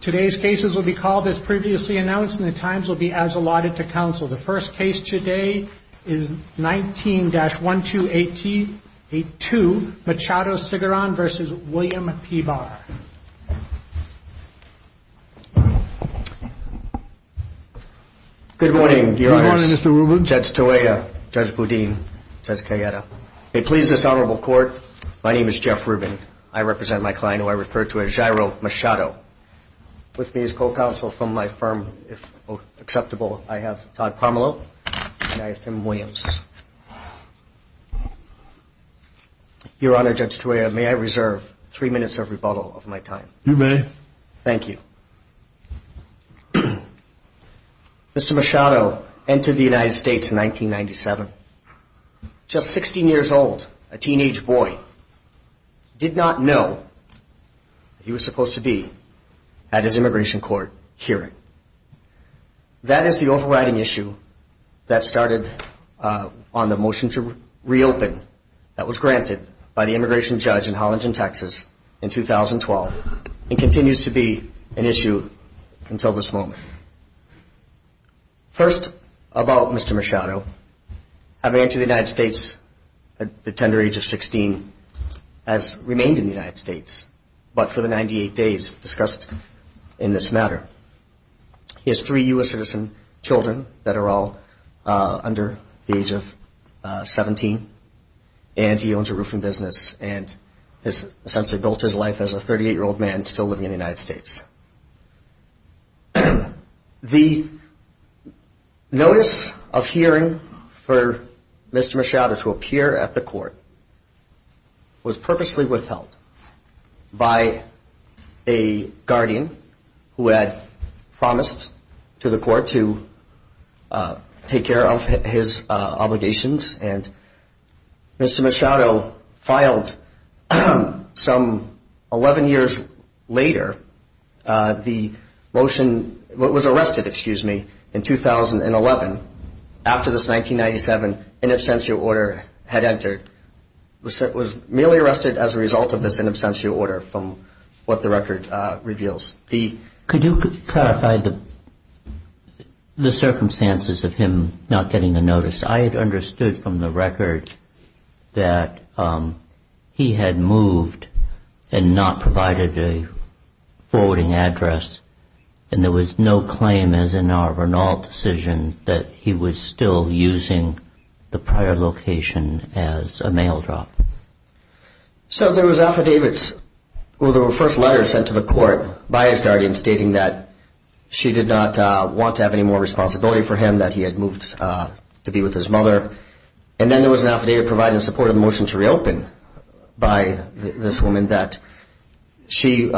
Today's cases will be called as previously announced and the times will be as allotted to counsel. The first case today is 19-1282 Machado Sigaran v. William P. Barr. Good morning, your honors. Good morning, Mr. Rubin. Judge Toeya, Judge Boudin, Judge Cayetta. It pleases this honorable court, my name is Jeff Rubin. I represent my client who I refer to as Jairo Machado. With me as co-counsel from my firm, if acceptable, I have Todd Parmalo and I have Tim Williams. Your honor, Judge Toeya, may I reserve three minutes of rebuttal of my time? You may. Thank you. Mr. Machado entered the United States in 1997. Just 16 years old, a teenage boy, did not know he was supposed to be at his immigration court hearing. That is the overriding issue that started on the motion to reopen that was granted by the immigration judge in Hollandton, Texas in 2012 and continues to be an issue until this moment. First, about Mr. Machado, having entered the United States at the tender age of 16, has remained in the United States, but for the 98 days discussed in this matter. He has three U.S. citizen children that are all under the age of 17 and he owns a roofing business and has essentially built his life as a 38 year old man still living in the United States. The notice of hearing for Mr. Machado to appear at the court was purposely withheld by a guardian who had promised to the court to take care of his obligations and Mr. Machado filed some 11 years later. The motion was arrested, excuse me, in 2011 after this 1997 in absentia order had entered. It was merely arrested as a result of this in absentia order from what the record reveals. Could you clarify the circumstances of him not getting the notice? I had understood from the record that he had moved and not provided a forwarding address and there was no claim as in our renault decision that he was still using the prior location as a mail drop. So there was affidavits, well there were first letters sent to the court by his guardian stating that she did not want to have any more responsibility for him, that he had moved to be with his mother and then there was an affidavit providing support of the motion to reopen by this woman that she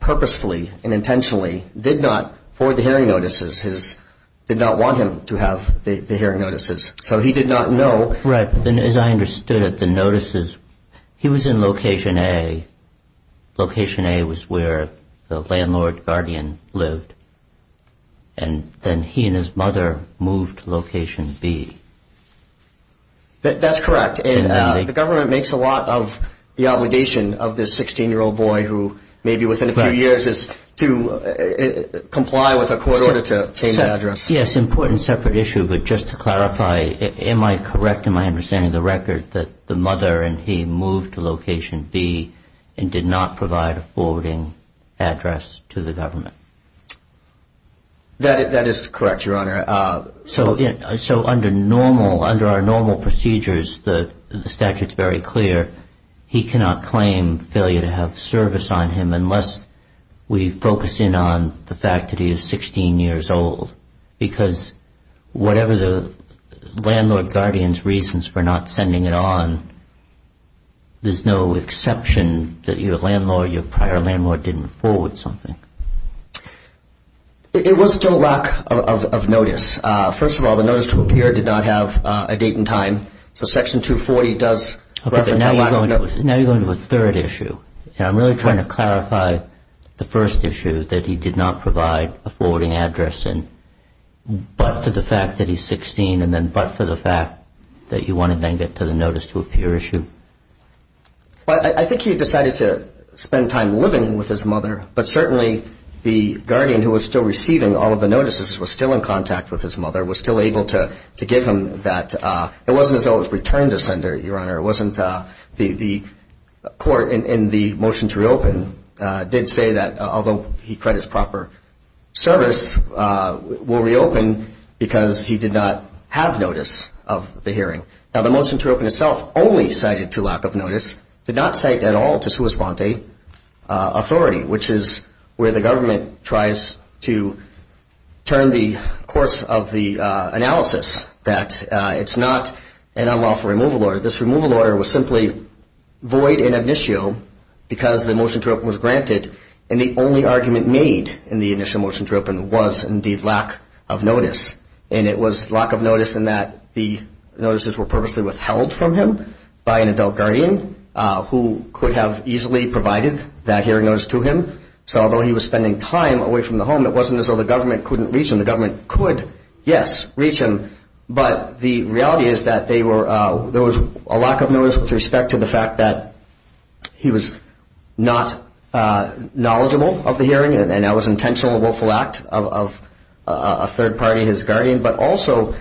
purposefully and intentionally did not forward the hearing notices, did not want him to have the hearing notices. So he did not know. Right, as I understood it, the notices, he was in location A, location A was where the landlord guardian lived and then he and his mother moved to location B. That's correct and the government makes a lot of the obligation of this 16 year old boy who maybe within a few years is to comply with a court order to change address. Yes, important separate issue but just to clarify, am I correct in my understanding of the record that the mother and he moved to location B and did not provide a forwarding address to the government? That is correct, your honor. So under normal, under our 16 years old because whatever the landlord guardian's reasons for not sending it on, there's no exception that your landlord, your prior landlord didn't forward something. It was still lack of notice. First of all, the notice to appear did not have a date and time, so section 240 does refer to a lack of notice. Now you're going to a third issue and I'm really trying to clarify the first issue that he did not provide a forwarding address in but for the fact that he's 16 and then but for the fact that you want to then get to the notice to appear issue? I think he decided to spend time living with his mother but certainly the guardian who was still in the motion to reopen did say that although he credits proper service will reopen because he did not have notice of the hearing. Now the motion to reopen itself only cited to lack of notice, did not cite at all to sua sponte authority which is where the government tries to turn the course of the analysis that it's not going to happen and I'm all for removal order. This removal order was simply void in ab initio because the motion to reopen was granted and the only argument made in the initial motion to reopen was indeed lack of notice and it was lack of notice in that the notices were purposely withheld from him by an adult guardian who could have easily provided that hearing notice to him. So although he was spending time away from the home, it wasn't as though the hearing was going to happen. There was a lack of notice with respect to the fact that he was not knowledgeable of the hearing and that was intentional willful act of a third party, his guardian, but also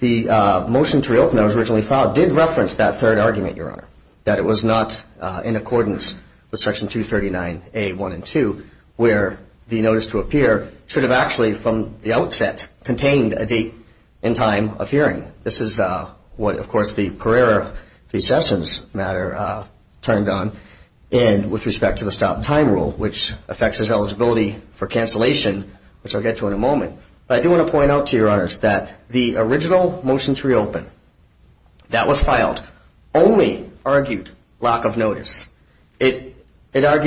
the motion to reopen that was originally filed did reference that third argument, Your Honor, that it was not in accordance with Section 239A.1 and 2 where the notice to appear should have actually from the outset contained a date and time of hearing. This is what of course the Pereira recessions matter turned on and with respect to the stop time rule which affects his eligibility for cancellation which I'll get to in a It argued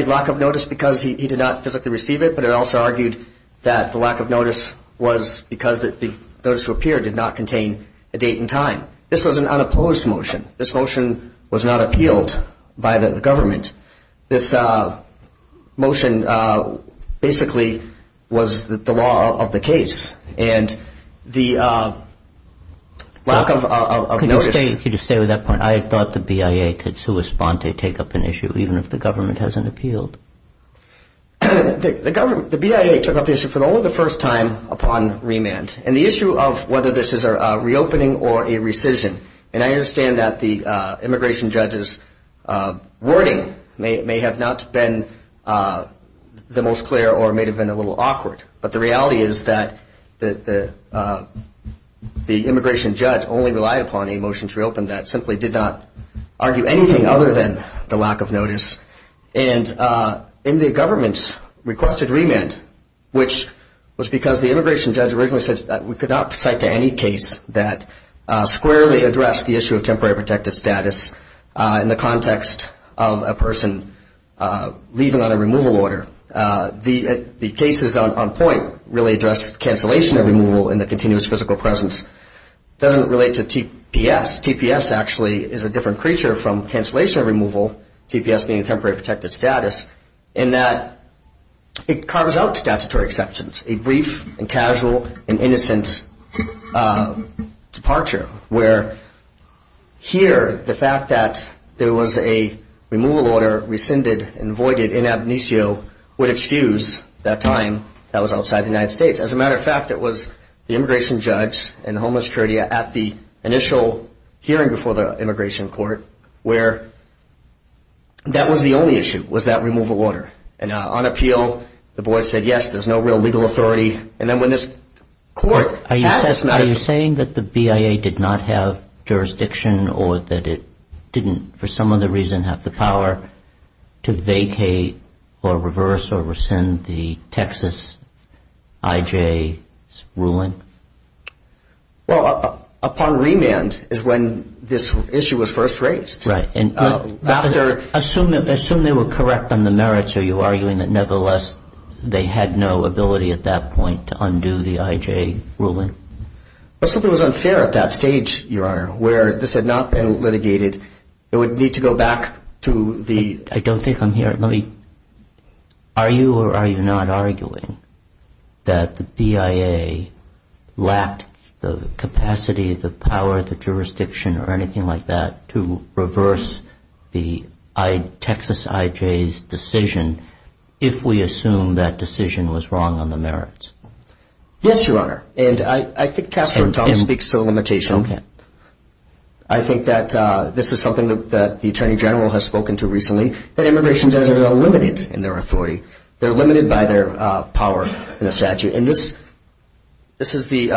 lack of notice because he did not physically receive it, but it also argued that the lack of notice was because the notice to appear did not contain a date and time. This was an unopposed motion. This motion was not appealed by the government. This motion basically was the law of the case and the lack of notice. I thought the BIA could take up an issue even if the government hasn't appealed. The BIA took up the issue for only the first time upon remand and the issue of whether this is a reopening or a rescission and I understand that the immigration judges wording may have not been the most clear or may have been a little awkward, but the reality is that the immigration judge only relied upon a motion to reopen that, simply did not argue anything other than the lack of notice. And the government requested remand which was because the immigration judge originally said that we could not cite to any case that squarely addressed the issue of temporary protected status in the context of a person leaving on a removal order. The cases on point really addressed cancellation of removal in the continuous physical presence. It doesn't relate to TPS. TPS actually is a different creature from cancellation of removal, TPS being temporary protected status, in that it carves out statutory exceptions, a brief and casual and innocent departure where here the fact that there was a removal order rescinded and voided in Abenecio would excuse that time that was outside the United States. As a matter of fact, it was the immigration judge and the Homeland Security at the initial hearing before the immigration court where that was the only issue, was that removal order. And on appeal, the board said, yes, there's no real legal authority. And then when this court had this matter... Are you saying that the BIA did not have jurisdiction or that it didn't for some other reason have the power to vacate or reverse or rescind the Texas IJ's ruling? Well, upon remand is when this issue was first raised. Assume they were correct on the merits. Are you arguing that nevertheless they had no ability at that point to undo the IJ ruling? Something was unfair at that stage, Your Honor, where this had not been litigated. It would need to go back to the... I don't think I'm hearing. Are you or are you not arguing that the BIA lacked the capacity, the power, the jurisdiction or anything like that to reverse the IJ's ruling? To reverse the Texas IJ's decision if we assume that decision was wrong on the merits? Yes, Your Honor. And I think Catherine Thomas speaks to the limitation. I think that this is something that the Attorney General has spoken to recently, that immigration judges are limited in their authority. They're limited by their power in the statute. And this is the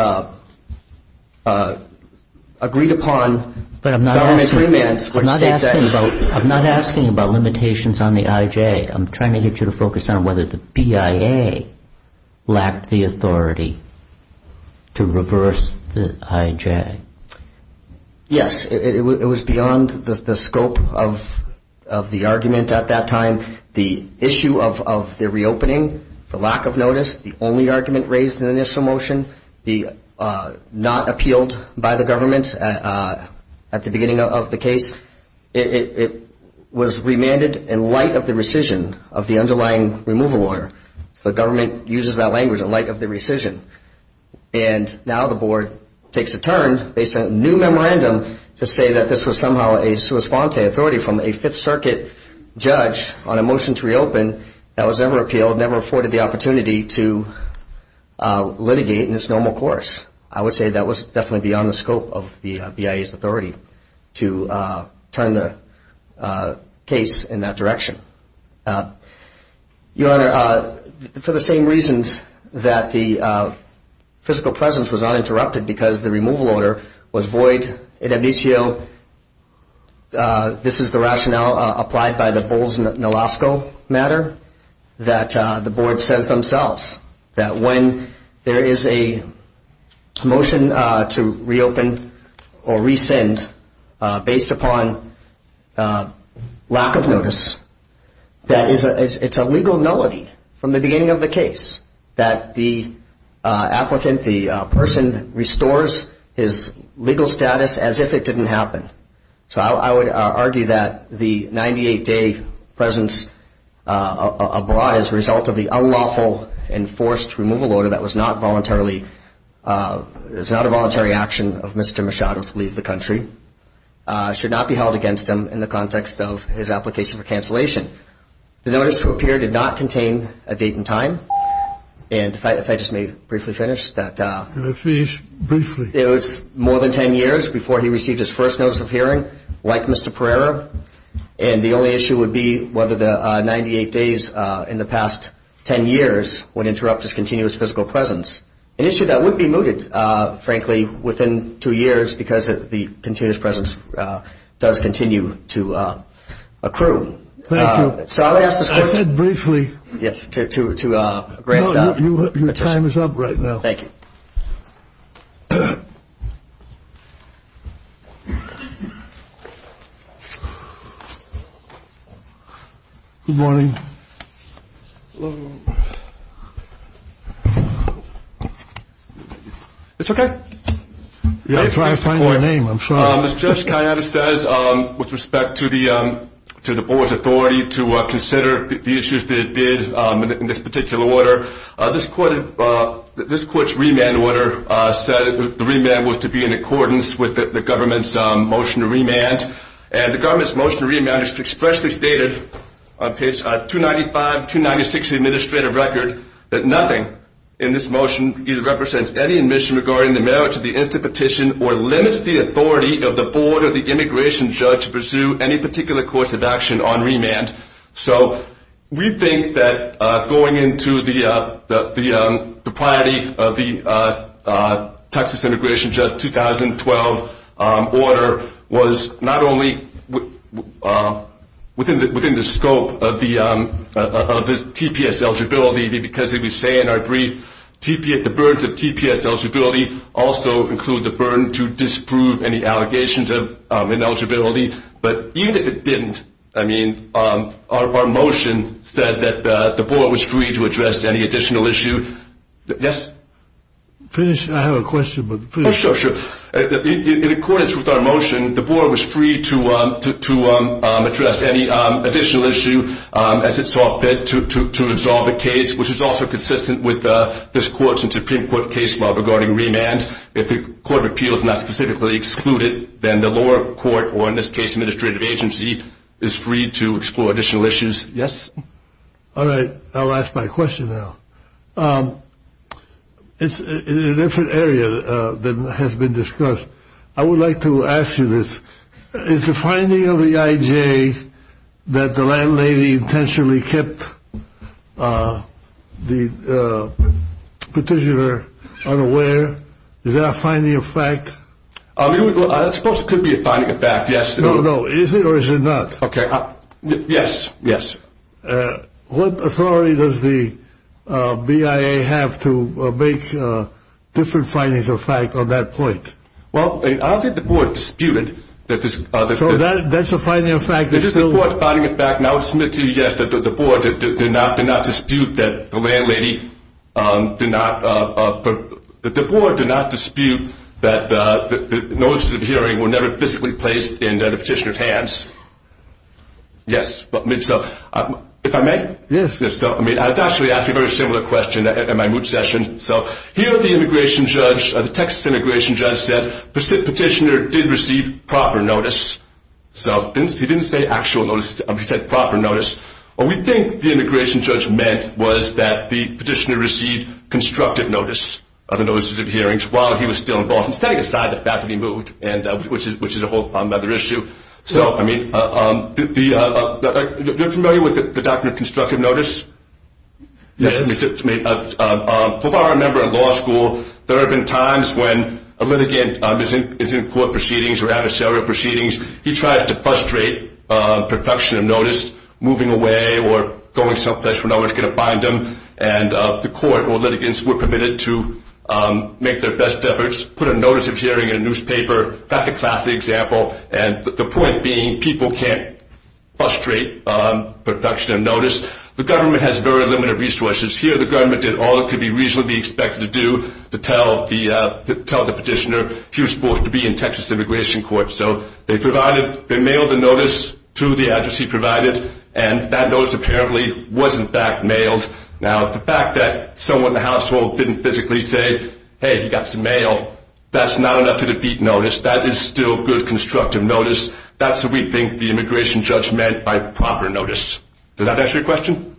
agreed upon government remand. But I'm not asking about limitations on the IJ. I'm trying to get you to focus on whether the BIA lacked the authority to reverse the IJ. Yes, it was beyond the scope of the argument at that time. The issue of the reopening, the lack of notice, the only argument raised in the initial motion, the not appealed by the government at the beginning of the case. It was remanded in light of the rescission of the underlying removal lawyer. So the government uses that language in light of the rescission. And now the board takes a turn based on a new memorandum to say that this was somehow a sua sponte authority from a Fifth Circuit judge on a motion to reopen. That was never appealed, never afforded the opportunity to litigate in its normal course. I would say that was definitely beyond the scope of the BIA's authority to turn the case in that direction. Your Honor, for the same reasons that the physical presence was not interrupted because the removal order was void, this is the rationale applied by the Bowles-Nolasco matter that the board says themselves that when there is a motion to reopen or rescind based upon lack of notice, that it's a legal nullity from the beginning of the case that the applicant, the person, restores his legal status as if it didn't happen. So I would argue that the 98-day presence abroad as a result of the unlawful enforced removal order that was not voluntarily, it was not a voluntary action of Mr. Machado to leave the country, should not be held against him in the context of his application for cancellation. The notice to appear did not contain a date and time, and if I just may briefly finish. Finish briefly. It was more than 10 years before he received his first notice of hearing, like Mr. Pereira, and the only issue would be whether the 98 days in the past 10 years would interrupt his continuous physical presence. An issue that would be mooted, frankly, within two years because the continuous presence does continue to accrue. Thank you. I said briefly. Your time is up right now. Thank you. Good morning. It's okay. I'm trying to find my name. I'm sure it's just kind of says with respect to the to the board's authority to consider the issues that it did in this particular order. This court, this court's remand order said the remand was to be in accordance with the government's motion to remand. And the government's motion remand is expressly stated on page 295, 296 administrative record that nothing in this motion either represents any admission regarding the merits of the instant petition or limits the authority of the board of the immigration judge to pursue any particular course of action on remand. So we think that going into the priority of the Texas immigration judge 2012 order was not only within the scope of the TPS eligibility, because it would say in our brief, the burden of TPS eligibility also include the burden to disprove any allegations of ineligibility. But it didn't. I mean, our motion said that the board was free to address any additional issue. Yes. Finish. I have a question. Sure. In accordance with our motion, the board was free to to to address any additional issue as it saw fit to resolve the case, which is also consistent with this court's Supreme Court case regarding remand. If the court of appeals not specifically excluded, then the lower court or in this case, administrative agency is free to explore additional issues. Yes. All right. I'll ask my question now. It's a different area that has been discussed. I would like to ask you this. Is the finding of the IJ that the landlady intentionally kept the petitioner unaware? Is that a finding of fact? I suppose it could be a finding of fact. Yes. No, no. Is it or is it not? Okay. Yes. Yes. What authority does the BIA have to make different findings of fact on that point? Well, I think the board disputed that this. So that's a finding of fact. It is a finding of fact. And I would submit to you, yes, that the board did not dispute that the landlady did not. The board did not dispute that the notice of hearing were never physically placed in the petitioner's hands. Yes. If I may. Yes. I mean, I'd actually ask a very similar question in my moot session. So here the immigration judge, the Texas immigration judge said the petitioner did receive proper notice. So he didn't say actual notice. He said proper notice. What we think the immigration judge meant was that the petitioner received constructive notice of the notices of hearings while he was still involved, setting aside the fact that he moved, which is a whole other issue. So, I mean, you're familiar with the doctrine of constructive notice? Yes. If I remember in law school, there have been times when a litigant is in court proceedings or adversarial proceedings, he tries to frustrate perfection of notice, moving away or going someplace where no one's going to find him, and the court or litigants were permitted to do so. I remember that classic example, and the point being people can't frustrate perfection of notice. The government has very limited resources. Here the government did all it could reasonably be expected to do to tell the petitioner he was supposed to be in Texas immigration court. So they provided, they mailed the notice to the address he provided, and that notice apparently was in fact mailed. Now, the fact that someone in the household didn't physically say, hey, he got some mail, that's not enough to defeat notice, that is still good constructive notice. That's what we think the immigration judge meant by proper notice. Did that answer your question?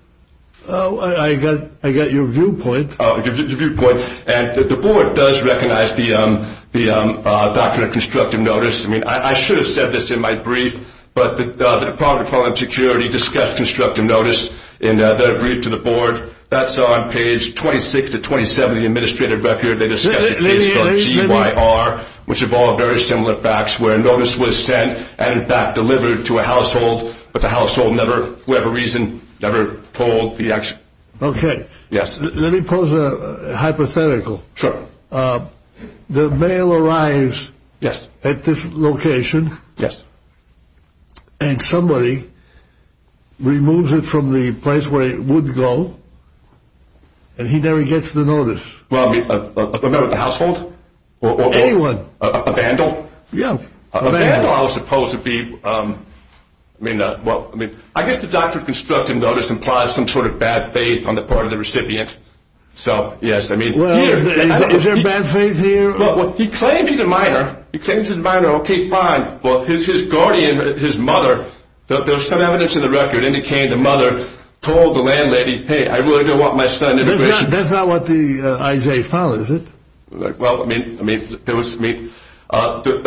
I got your viewpoint. The board does recognize the doctrine of constructive notice. I should have said this in my brief, but the Department of Homeland Security discussed this with the board. That's on page 26 to 27 of the administrative record. They discussed a case called GYR, which involved very similar facts where a notice was sent and in fact delivered to a household, but the household never, for whatever reason, never told the action. Let me pose a hypothetical. The mail arrives at this location, and somebody removes it from the place where it would go, and he never gets the notice. A member of the household? A vandal? I guess the doctrine of constructive notice implies some sort of bad faith on the part of the recipient. Is there bad faith here? He claims he's a minor. Okay, fine. His guardian, his mother, there's some evidence in the record indicating the mother told the landlady, hey, I really don't want my son That's not what Isaiah found, is it? It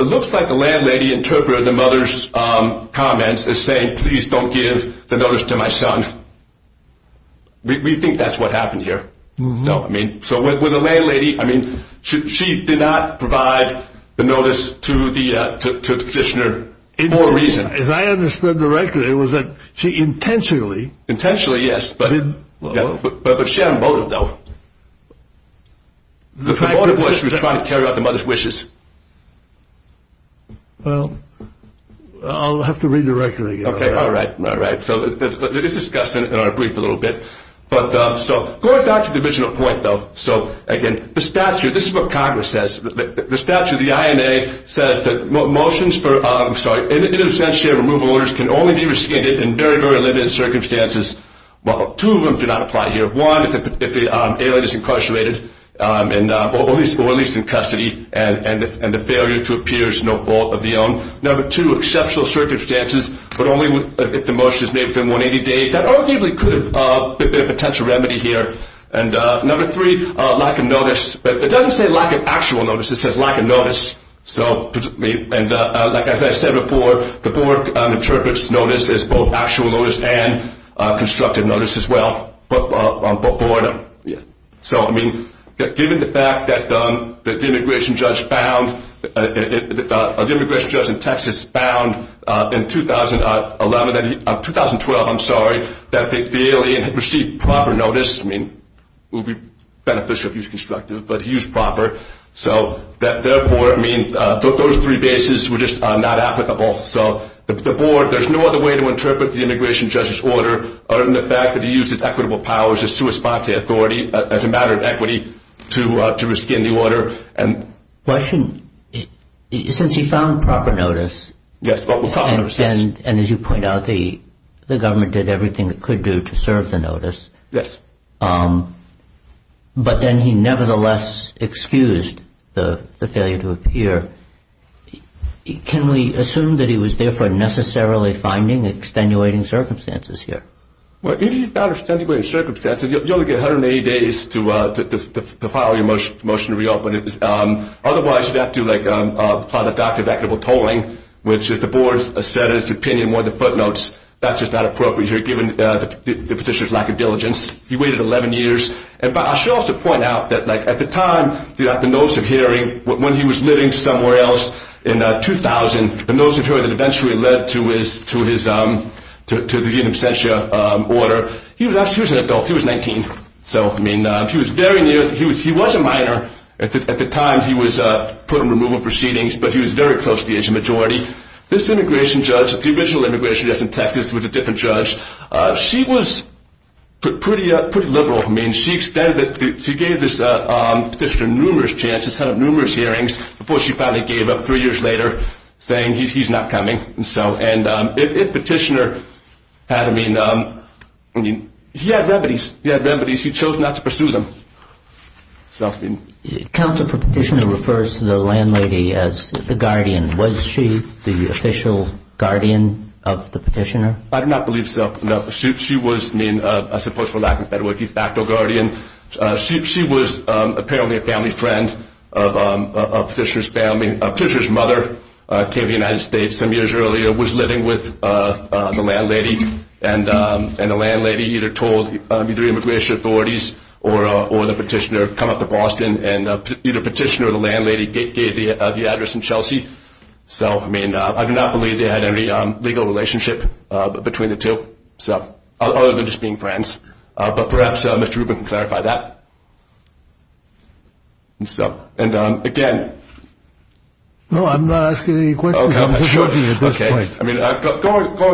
looks like the landlady interpreted the mother's comments as saying, please don't give the notice to my son. We think that's what happened here. She did not provide the notice to the petitioner for a reason. As I understand the record, it was that she intentionally But she had a motive, though. The motive was she was trying to carry out the mother's wishes. Well, I'll have to read the record again. Okay, all right. This is discussed in our brief a little bit. Going back to the original point, though. So, again, the statute, this is what Congress says. The statute, the INA says that motions for, I'm sorry, independent of century of removal orders can only be rescinded in very, very limited circumstances. Well, two of them do not apply here. One, if the alien is incarcerated, or at least in custody, and the failure to appear is no fault of their own. Number two, exceptional circumstances, but only if the motion is made within 180 days. That arguably could have been a potential remedy here. Number three, lack of notice. It doesn't say lack of actual notice, it says lack of notice. Like I said before, the board interprets notice as both actual notice and constructive notice as well. Given the fact that the immigration judge found the immigration judge in Texas found in 2011, 2012, I'm sorry, that the alien had received proper notice, I mean, it would be beneficial if he was constructive, but he used proper, so that therefore, I mean, those three bases were just not applicable. So the board, there's no other way to interpret the immigration judge's order other than the fact that he used his equitable powers as a matter of equity to rescind the order. Why shouldn't, since he found proper notice, and as you point out, the government did everything it could do to serve the notice, but then he nevertheless excused the failure to appear. Can we assume that he was therefore necessarily finding extenuating circumstances here? If you found extenuating circumstances, you only get 180 days to file your motion to reopen. Otherwise, you'd have to file a document of equitable tolling, which if the board said in its opinion, one of the footnotes, that's just not appropriate here, given the petitioner's lack of diligence. He waited 11 years, but I should also point out that at the time, the notice of hearing, when he was living somewhere else in 2000, the notice of hearing that eventually led to his exemption order, he was an adult, he was 19, so he was very near, he was a minor at the time, he was put in removal proceedings, but he was very close to the Asian majority. This immigration judge, the original immigration judge in Texas, was a different judge. She was pretty liberal. She gave this petitioner numerous chances, had numerous hearings, before she finally gave up three years later, saying he's not coming. And if petitioner had, I mean, he had remedies. He had remedies. He chose not to pursue them. Counsel for petitioner refers to the landlady as the guardian. Was she the official guardian of the petitioner? I do not believe so. No. She was, I mean, I suppose for lack of a better word, de facto guardian. She was apparently a family friend of Fisher's mother, came to the United States some years earlier, was living with the landlady, and the landlady either told the immigration authorities or the petitioner, come up to Boston and either petitioner or the landlady gave the address in Chelsea. So, I mean, I do not believe they had any legal relationship between the two, other than just being friends. But perhaps Mr. Rubin can clarify that. And again... No, I'm not asking any questions. I'm just looking at this point. Going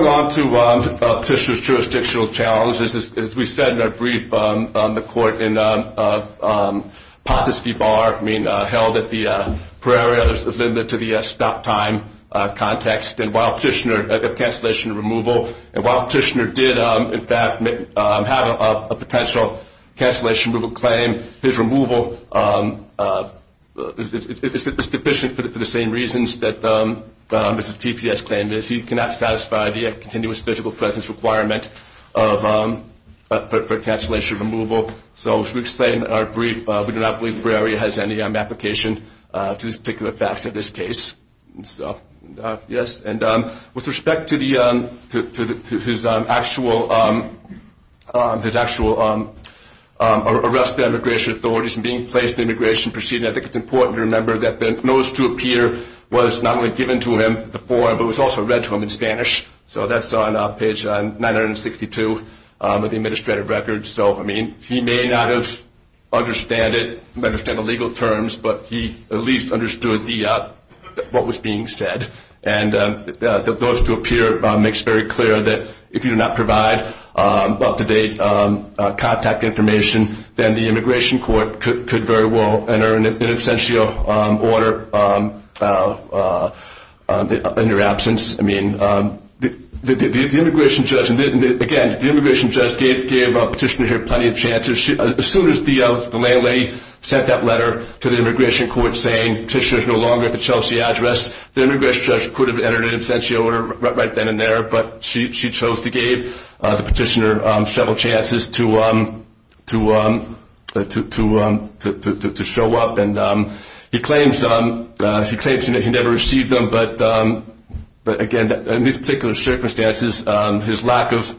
on to Petitioner's jurisdictional challenges. As we said in our brief, the court in Pontusky Bar, I mean, held at the Prairie, other than to the stop time context, and while Petitioner had cancellation removal, and while Petitioner did in fact have a potential cancellation removal claim, his removal is deficient for the same reasons that Mr. TPS claimed. He cannot satisfy the continuous physical presence requirement for cancellation removal. So, as we explained in our brief, we do not believe Prairie has any application to these particular facts in this case. So, yes, and with respect to the to his actual arrest by immigration authorities and being placed in the immigration proceeding, I think it's important to remember that the notice to appear was not only given to him before, but was also read to him in Spanish. So that's on page 962 of the administrative records. So, I mean, he may not have understood it, understand the legal terms, but he at least understood what was being said. And the notice to appear makes very clear that if you do not provide up-to-date contact information, then the immigration court could very well enter an essential order in your absence. I mean, the immigration judge, and again, the immigration judge gave Petitioner here plenty of chances. As soon as the landlady sent that letter to the immigration court saying Petitioner is no longer at the Chelsea address, the immigration judge could have entered an essential order right then and there, but she chose to give the Petitioner several chances to show up. And he claims that he never received them, but again, in these particular circumstances, his lack of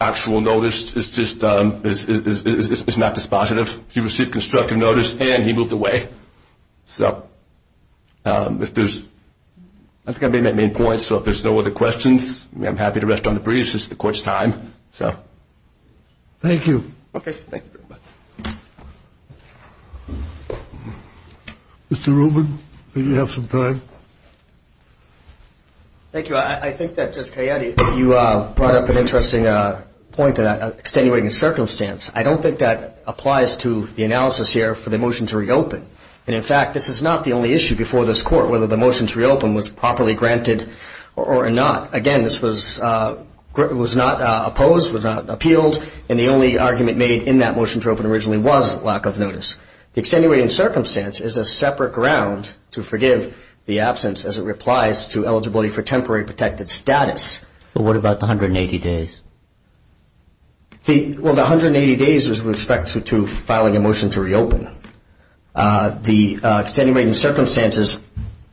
actual notice is not dispositive. He received constructive notice and he moved away. So, if there's... I think I made my main point, so if there's no other questions, I'm happy to rest on the breeze. It's the court's time. So, thank you. Okay, thank you very much. Mr. Rubin, I think you have some time. Thank you. I think that, Judge Cayetti, you brought up an interesting point about extenuating a circumstance. I don't think that applies to the analysis here for the motion to reopen. And in fact, this is not the only issue before this court, whether the motion to reopen was properly granted or not. Again, this was not opposed, was not appealed, and the only argument made in that motion to open originally was lack of notice. The extenuating circumstance is a separate ground to forgive the absence as it applies to eligibility for temporary protected status. But what about the 180 days? Well, the 180 days is with respect to filing a motion to reopen. The extenuating circumstances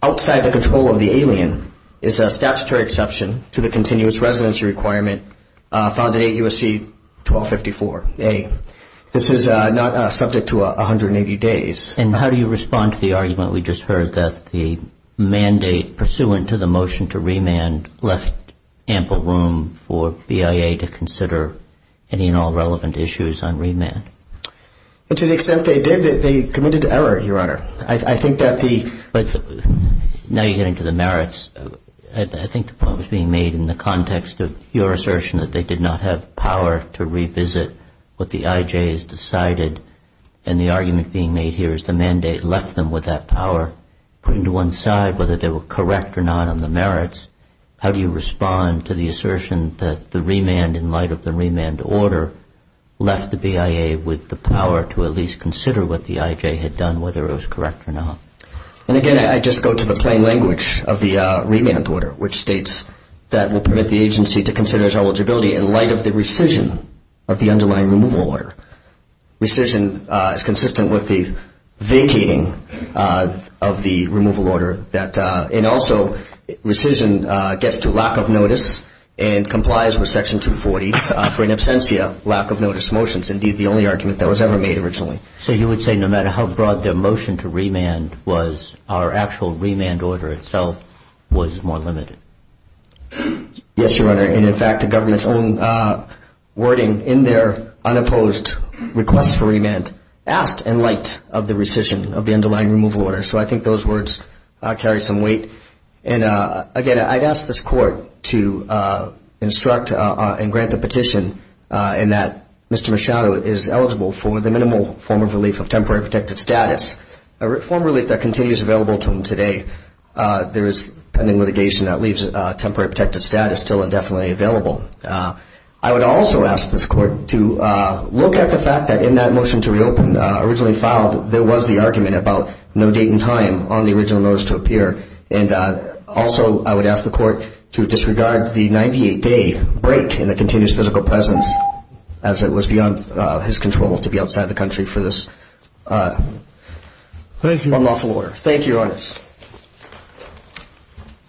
outside the control of the alien is a statutory exception to the continuous residency requirement found in 8 U.S.C. 1254A. This is not subject to 180 days. And how do you respond to the argument we just heard that the mandate pursuant to the motion to remand left ample room for BIA to consider any and all relevant issues on remand? To the extent they did, they committed error, Your Honor. But now you're getting to the merits. I think the point was being made in the context of your assertion that they did not have power to revisit what the IJ has decided and the argument being made here is the mandate left them with that power putting to one side whether they were correct or not on the merits. How do you respond to the assertion that the remand in light of the remand order left the BIA with the power to at least consider what the IJ had done, whether it was correct or not? And again, I just go to the plain language of the remand order which states that will permit the agency to consider its eligibility in light of the rescission of the underlying removal order. Rescission is consistent with the vacating of the removal order and also rescission gets to lack of notice and complies with Section 240 for an absentia lack of notice motion. It's indeed the only argument that was ever made originally. So you would say no matter how broad their motion to remand was, our actual remand order itself was more limited? Yes, Your Honor. And in fact, the government's own wording in their unopposed request for remand asked in light of the rescission of the underlying removal order. So I think those words carry some weight. And again, I'd ask this Court to instruct and grant the petition in that Mr. Machado is eligible for the minimal form of relief of temporary protected status, a reform relief that continues available to him today. There is pending litigation that leaves temporary protected status still indefinitely available. I would also ask this Court to look at the fact that in that motion to reopen originally filed, there was the argument about no date and time on the original notice to appear. And also I would ask the Court to disregard the 98-day break in the continuous physical presence as it was beyond his control to be outside the country for this unlawful order. Thank you, Your Honor.